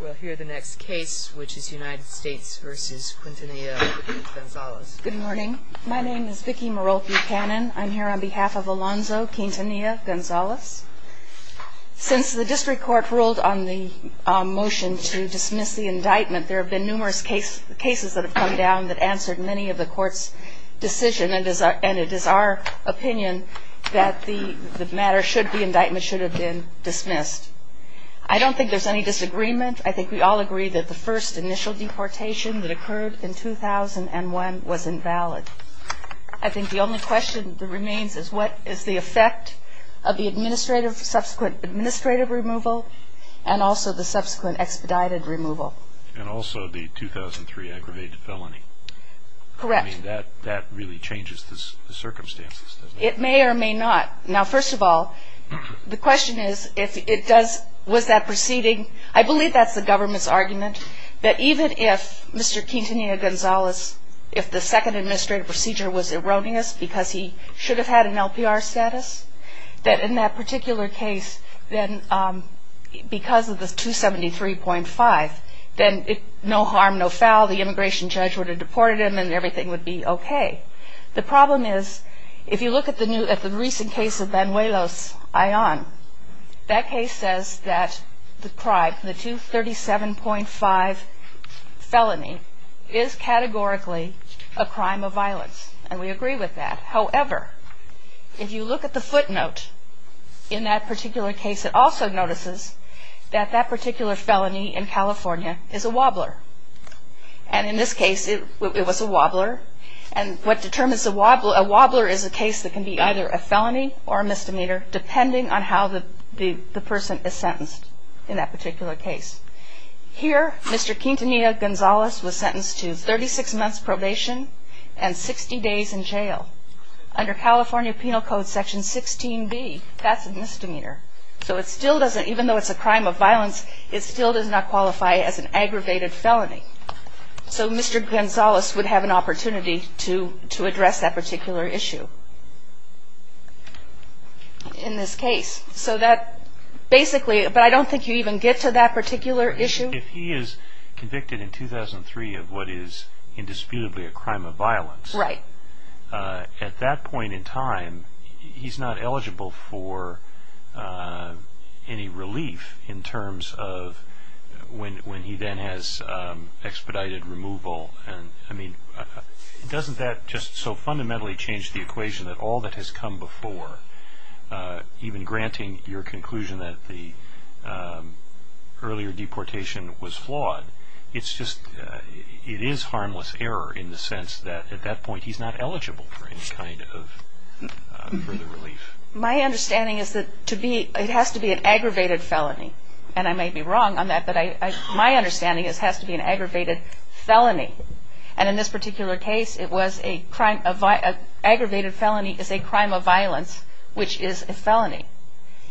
We'll hear the next case, which is United States v. Quintanilla-Gonzalez. Good morning. My name is Vicki Marolke-Pannon. I'm here on behalf of Alonzo Quintanilla-Gonzalez. Since the district court ruled on the motion to dismiss the indictment, there have been numerous cases that have come down that answered many of the court's decisions, and it is our opinion that the matter should be, the indictment should have been dismissed. I don't think there's any disagreement. I think we all agree that the first initial deportation that occurred in 2001 was invalid. I think the only question that remains is what is the effect of the subsequent administrative removal and also the subsequent expedited removal. And also the 2003 aggravated felony. Correct. I mean, that really changes the circumstances, doesn't it? It may or may not. Now, first of all, the question is, was that proceeding? I believe that's the government's argument, that even if Mr. Quintanilla-Gonzalez, if the second administrative procedure was erroneous because he should have had an LPR status, that in that particular case, then because of the 273.5, then no harm, no foul. The immigration judge would have deported him and everything would be okay. The problem is, if you look at the recent case of Banuelos-Aon, that case says that the crime, the 237.5 felony, is categorically a crime of violence. And we agree with that. However, if you look at the footnote in that particular case, it also notices that that particular felony in California is a wobbler. And in this case, it was a wobbler. And what determines a wobbler is a case that can be either a felony or a misdemeanor, depending on how the person is sentenced in that particular case. Here, Mr. Quintanilla-Gonzalez was sentenced to 36 months probation and 60 days in jail. Under California Penal Code Section 16B, that's a misdemeanor. So it still doesn't, even though it's a crime of violence, it still does not qualify as an aggravated felony. So Mr. Gonzalez would have an opportunity to address that particular issue in this case. So that basically, but I don't think you even get to that particular issue. If he is convicted in 2003 of what is indisputably a crime of violence, at that point in time, he's not eligible for any relief in terms of when he then has expedited removal. I mean, doesn't that just so fundamentally change the equation that all that has come before, even granting your conclusion that the earlier deportation was flawed, it is harmless error in the sense that at that point he's not eligible for any kind of further relief. My understanding is that it has to be an aggravated felony. And I may be wrong on that, but my understanding is it has to be an aggravated felony. And in this particular case, an aggravated felony is a crime of violence, which is a felony.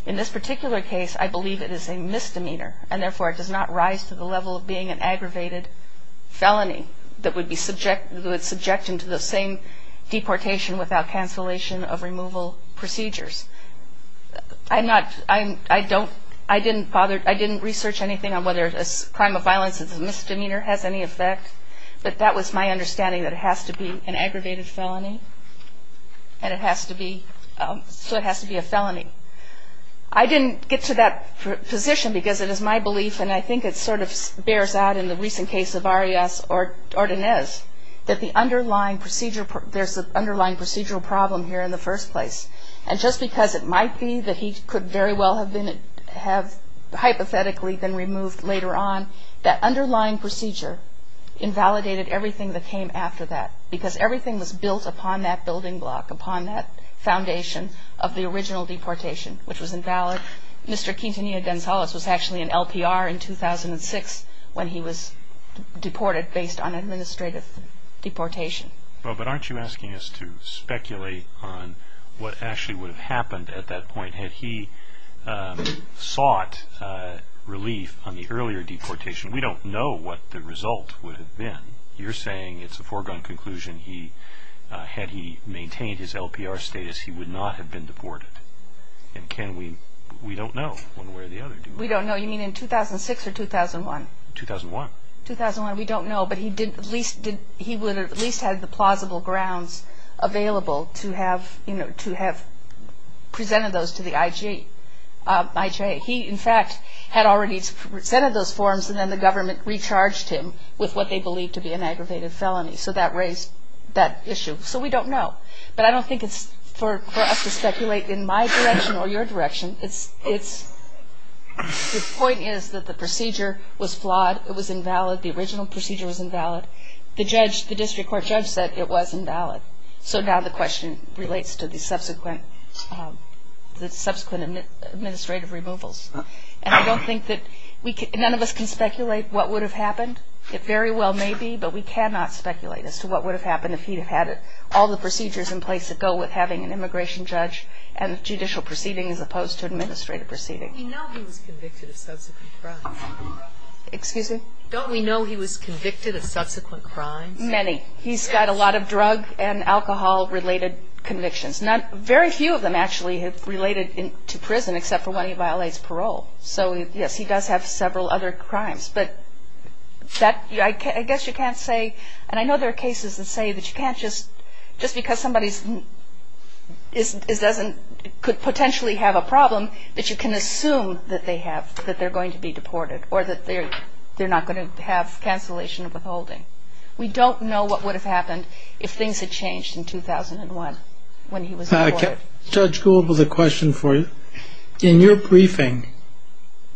In this particular case, I believe it is a misdemeanor, and therefore it does not rise to the level of being an aggravated felony that would subject him to the same deportation without cancellation of removal procedures. I'm not, I don't, I didn't bother, I didn't research anything on whether a crime of violence is a misdemeanor, has any effect, but that was my understanding that it has to be an aggravated felony. And it has to be, so it has to be a felony. I didn't get to that position because it is my belief, and I think it sort of bears out in the recent case of Arias Ordonez, that the underlying procedure, there's an underlying procedural problem here in the first place. And just because it might be that he could very well have been, have hypothetically been removed later on, that underlying procedure invalidated everything that came after that, because everything was built upon that building block, upon that foundation of the original deportation, which was invalid. Mr. Quintanilla Gonzalez was actually in LPR in 2006 when he was deported based on administrative deportation. Well, but aren't you asking us to speculate on what actually would have happened at that point had he sought relief on the earlier deportation? We don't know what the result would have been. You're saying it's a foregone conclusion. Had he maintained his LPR status, he would not have been deported. And can we, we don't know one way or the other, do we? We don't know. You mean in 2006 or 2001? 2001. 2001, we don't know. But he would have at least had the plausible grounds available to have presented those to the IJA. He, in fact, had already presented those forms, and then the government recharged him with what they believed to be an aggravated felony. So that raised that issue. So we don't know. But I don't think it's for us to speculate in my direction or your direction. It's, the point is that the procedure was flawed. It was invalid. The original procedure was invalid. The judge, the district court judge said it was invalid. So now the question relates to the subsequent administrative removals. And I don't think that we can, none of us can speculate what would have happened. It very well may be, but we cannot speculate as to what would have happened if he had had all the procedures in place that go with having an immigration judge and judicial proceeding as opposed to administrative proceeding. We know he was convicted of subsequent crimes. Excuse me? Don't we know he was convicted of subsequent crimes? Many. He's got a lot of drug and alcohol-related convictions. Very few of them actually have related to prison except for when he violates parole. So, yes, he does have several other crimes. But I guess you can't say, and I know there are cases that say that you can't just, just because somebody could potentially have a problem, that you can assume that they have, that they're going to be deported or that they're not going to have cancellation of withholding. We don't know what would have happened if things had changed in 2001 when he was deported. Judge Gould, with a question for you. In your briefing,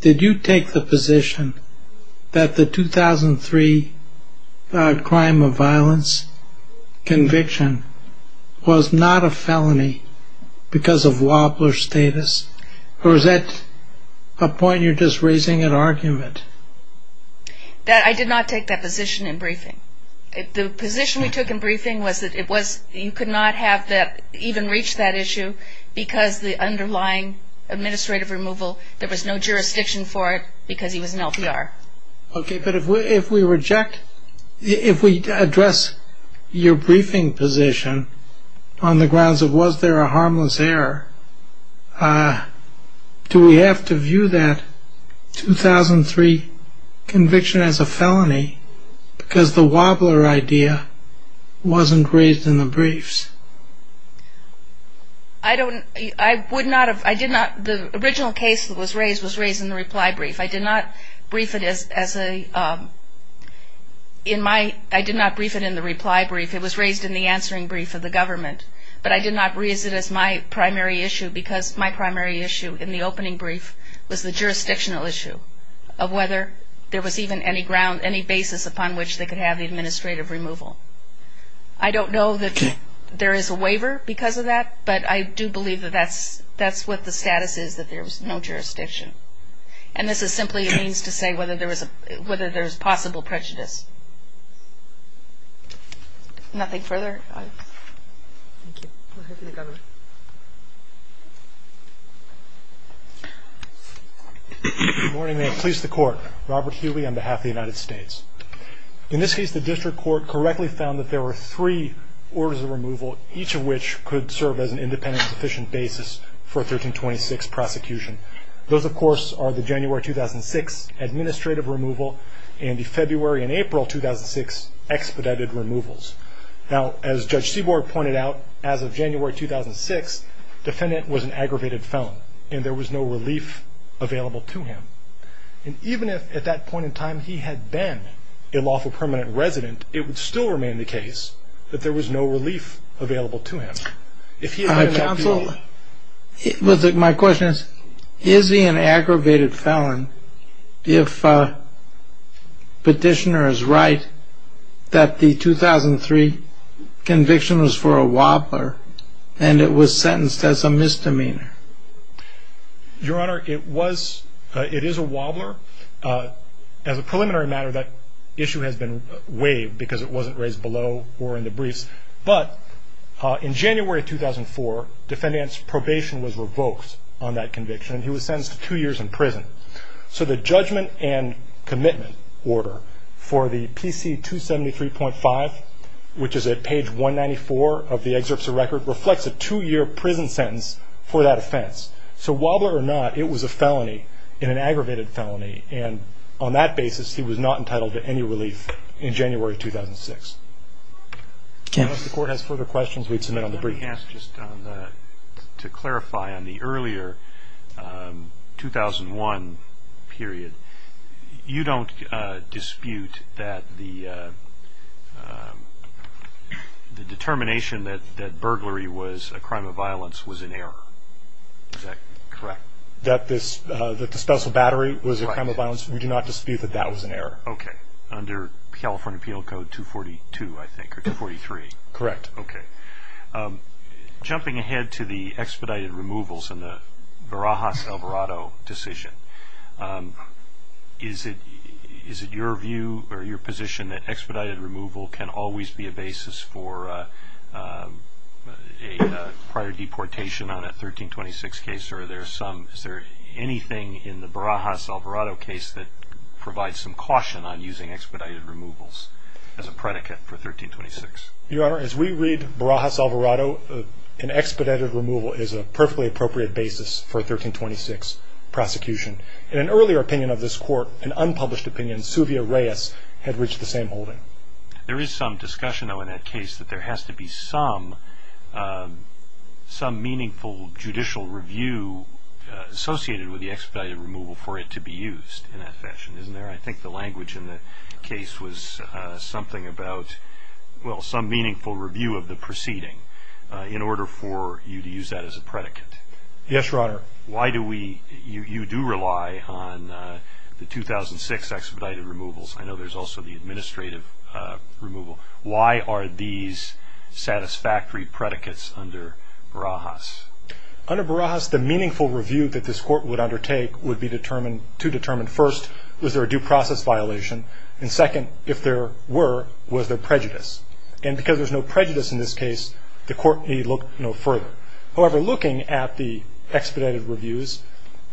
did you take the position that the 2003 crime of violence conviction was not a felony because of wobbler status? Or is that a point you're just raising in argument? I did not take that position in briefing. The position we took in briefing was that it was, you could not have that, even reach that issue because the underlying administrative removal, there was no jurisdiction for it because he was an LPR. Okay, but if we reject, if we address your briefing position on the grounds of was there a harmless error, do we have to view that 2003 conviction as a felony because the wobbler idea wasn't raised in the briefs? I would not have, I did not, the original case that was raised was raised in the reply brief. I did not brief it as a, in my, I did not brief it in the reply brief. It was raised in the answering brief of the government. But I did not raise it as my primary issue because my primary issue in the opening brief was the jurisdictional issue of whether there was even any ground, any basis upon which they could have the administrative removal. I don't know that there is a waiver because of that, but I do believe that that's what the status is, that there's no jurisdiction. And this is simply a means to say whether there's possible prejudice. Nothing further? Thank you. We'll hear from the government. Good morning. May it please the Court. Robert Healy on behalf of the United States. In this case, the district court correctly found that there were three orders of removal, each of which could serve as an independent sufficient basis for 1326 prosecution. Those, of course, are the January 2006 administrative removal and the February and April 2006 expedited removals. Now, as Judge Seaborg pointed out, as of January 2006, defendant was an aggravated felon and there was no relief available to him. And even if, at that point in time, he had been a lawful permanent resident, it would still remain the case that there was no relief available to him. If he had not been- Counsel, my question is, is he an aggravated felon if petitioner is right that the 2003 conviction was for a wobbler and it was sentenced as a misdemeanor? Your Honor, it is a wobbler. As a preliminary matter, that issue has been waived because it wasn't raised below or in the briefs. But in January 2004, defendant's probation was revoked on that conviction. And he was sentenced to two years in prison. So the judgment and commitment order for the PC 273.5, which is at page 194 of the excerpts of record, reflects a two-year prison sentence for that offense. So, wobbler or not, it was a felony, an aggravated felony. And on that basis, he was not entitled to any relief in January 2006. Unless the Court has further questions, we'd submit on the brief. Let me ask just to clarify on the earlier 2001 period. You don't dispute that the determination that burglary was a crime of violence was an error. Is that correct? That the disposal battery was a crime of violence, we do not dispute that that was an error. Okay. Under California Appeal Code 242, I think, or 243. Correct. Okay. Jumping ahead to the expedited removals in the Barajas-Alvarado decision. Is it your view or your position that expedited removal can always be a basis for a prior deportation on a 1326 case? Or is there anything in the Barajas-Alvarado case that provides some caution on using expedited removals as a predicate for 1326? Your Honor, as we read Barajas-Alvarado, an expedited removal is a perfectly appropriate basis for a 1326 prosecution. In an earlier opinion of this Court, an unpublished opinion, Suvia Reyes had reached the same holding. There is some discussion, though, in that case that there has to be some meaningful judicial review associated with the expedited removal for it to be used in that fashion, isn't there? I think the language in the case was something about, well, some meaningful review of the proceeding in order for you to use that as a predicate. Yes, Your Honor. Why do we, you do rely on the 2006 expedited removals. I know there's also the administrative removal. Why are these satisfactory predicates under Barajas? Under Barajas, the meaningful review that this Court would undertake would be determined, to determine, first, was there a due process violation? And second, if there were, was there prejudice? And because there's no prejudice in this case, the Court may look no further. However, looking at the expedited reviews,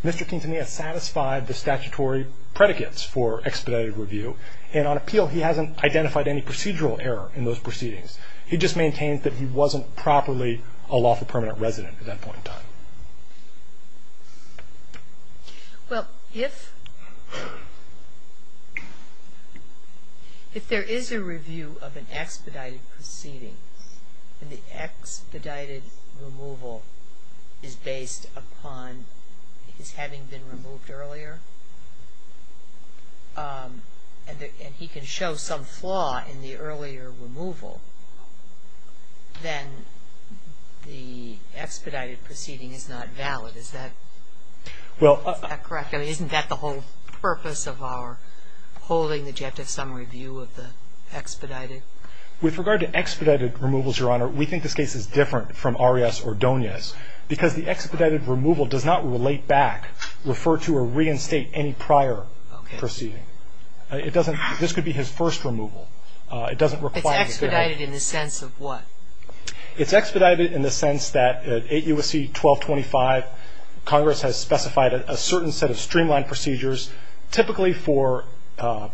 Mr. Quintanilla satisfied the statutory predicates for expedited review. And on appeal, he hasn't identified any procedural error in those proceedings. He just maintains that he wasn't properly a lawful permanent resident at that point in time. Well, if, if there is a review of an expedited proceeding, and the expedited removal is based upon his having been removed earlier, and he can show some flaw in the earlier removal, then the expedited proceeding is not valid. Is that correct? I mean, isn't that the whole purpose of our holding the Jective Summary Review of the expedited? With regard to expedited removals, Your Honor, we think this case is different from Arias or Donius, because the expedited removal does not relate back, refer to, or reinstate any prior proceeding. Okay. It doesn't, this could be his first removal. It doesn't require him to help. It's expedited in the sense of what? It's expedited in the sense that at 8 U.S.C. 1225, Congress has specified a certain set of streamlined procedures, typically for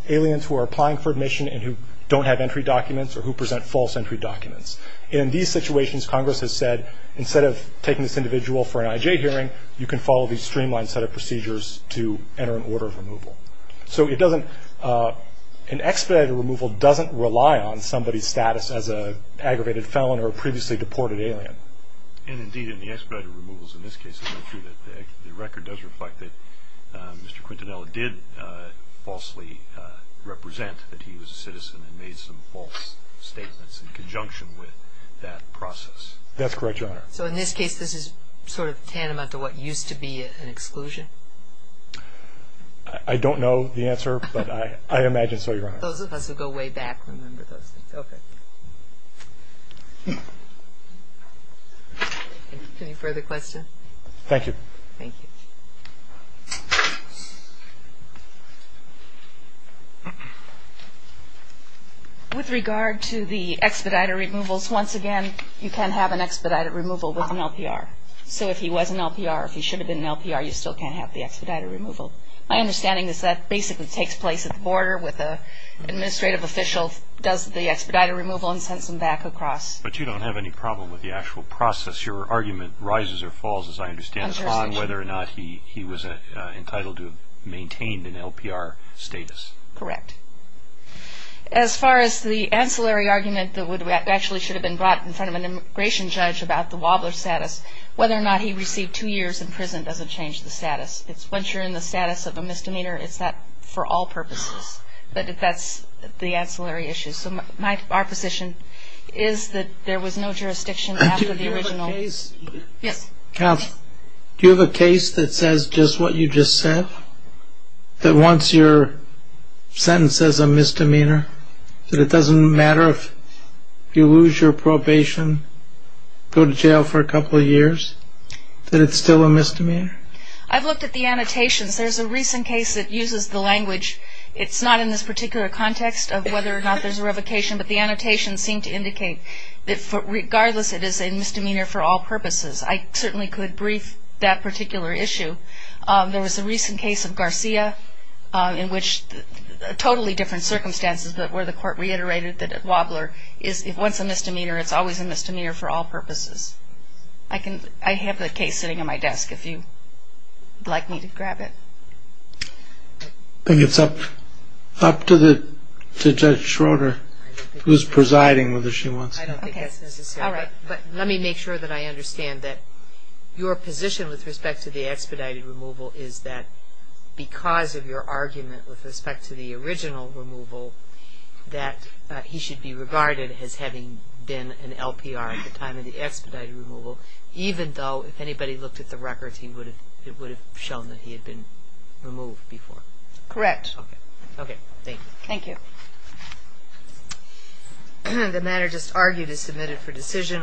aliens who are applying for admission and who don't have entry documents or who present false entry documents. In these situations, Congress has said, instead of taking this individual for an IJ hearing, you can follow these streamlined set of procedures to enter an order of removal. So it doesn't, an expedited removal doesn't rely on somebody's status as an aggravated felon or a previously deported alien. And, indeed, in the expedited removals in this case, the record does reflect that Mr. Quintanilla did falsely represent that he was a citizen and made some false statements in conjunction with that process. That's correct, Your Honor. So in this case, this is sort of tantamount to what used to be an exclusion? I don't know the answer, but I imagine so, Your Honor. Those of us who go way back remember those things. Okay. Any further questions? Thank you. Thank you. With regard to the expedited removals, once again, you can have an expedited removal with an LPR. So if he was an LPR, if he should have been an LPR, you still can have the expedited removal. My understanding is that basically takes place at the border with an administrative official, does the expedited removal, and sends him back across. But you don't have any problem with the actual process. Your argument rises or falls, as I understand it, on whether or not he was entitled to maintain an LPR status. Correct. As far as the ancillary argument that actually should have been brought in front of an immigration judge about the Wobbler status, whether or not he received two years in prison doesn't change the status. Once you're in the status of a misdemeanor, it's that for all purposes. But that's the ancillary issue. So our position is that there was no jurisdiction after the original. Do you have a case that says just what you just said, that once your sentence says a misdemeanor, that it doesn't matter if you lose your probation, go to jail for a couple of years, that it's still a misdemeanor? I've looked at the annotations. It's not in this particular context of whether or not there's a revocation, but the annotations seem to indicate that regardless, it is a misdemeanor for all purposes. I certainly could brief that particular issue. There was a recent case of Garcia in which totally different circumstances, but where the court reiterated that at Wobbler, once a misdemeanor, it's always a misdemeanor for all purposes. I have the case sitting on my desk if you'd like me to grab it. I think it's up to Judge Schroeder who's presiding whether she wants to. I don't think that's necessary. All right. But let me make sure that I understand that your position with respect to the expedited removal is that because of your argument with respect to the original removal, that he should be regarded as having been an LPR at the time of the expedited removal, even though if anybody looked at the records, it would have shown that he had been removed before? Correct. Thank you. Thank you. The matter just argued is submitted for decision.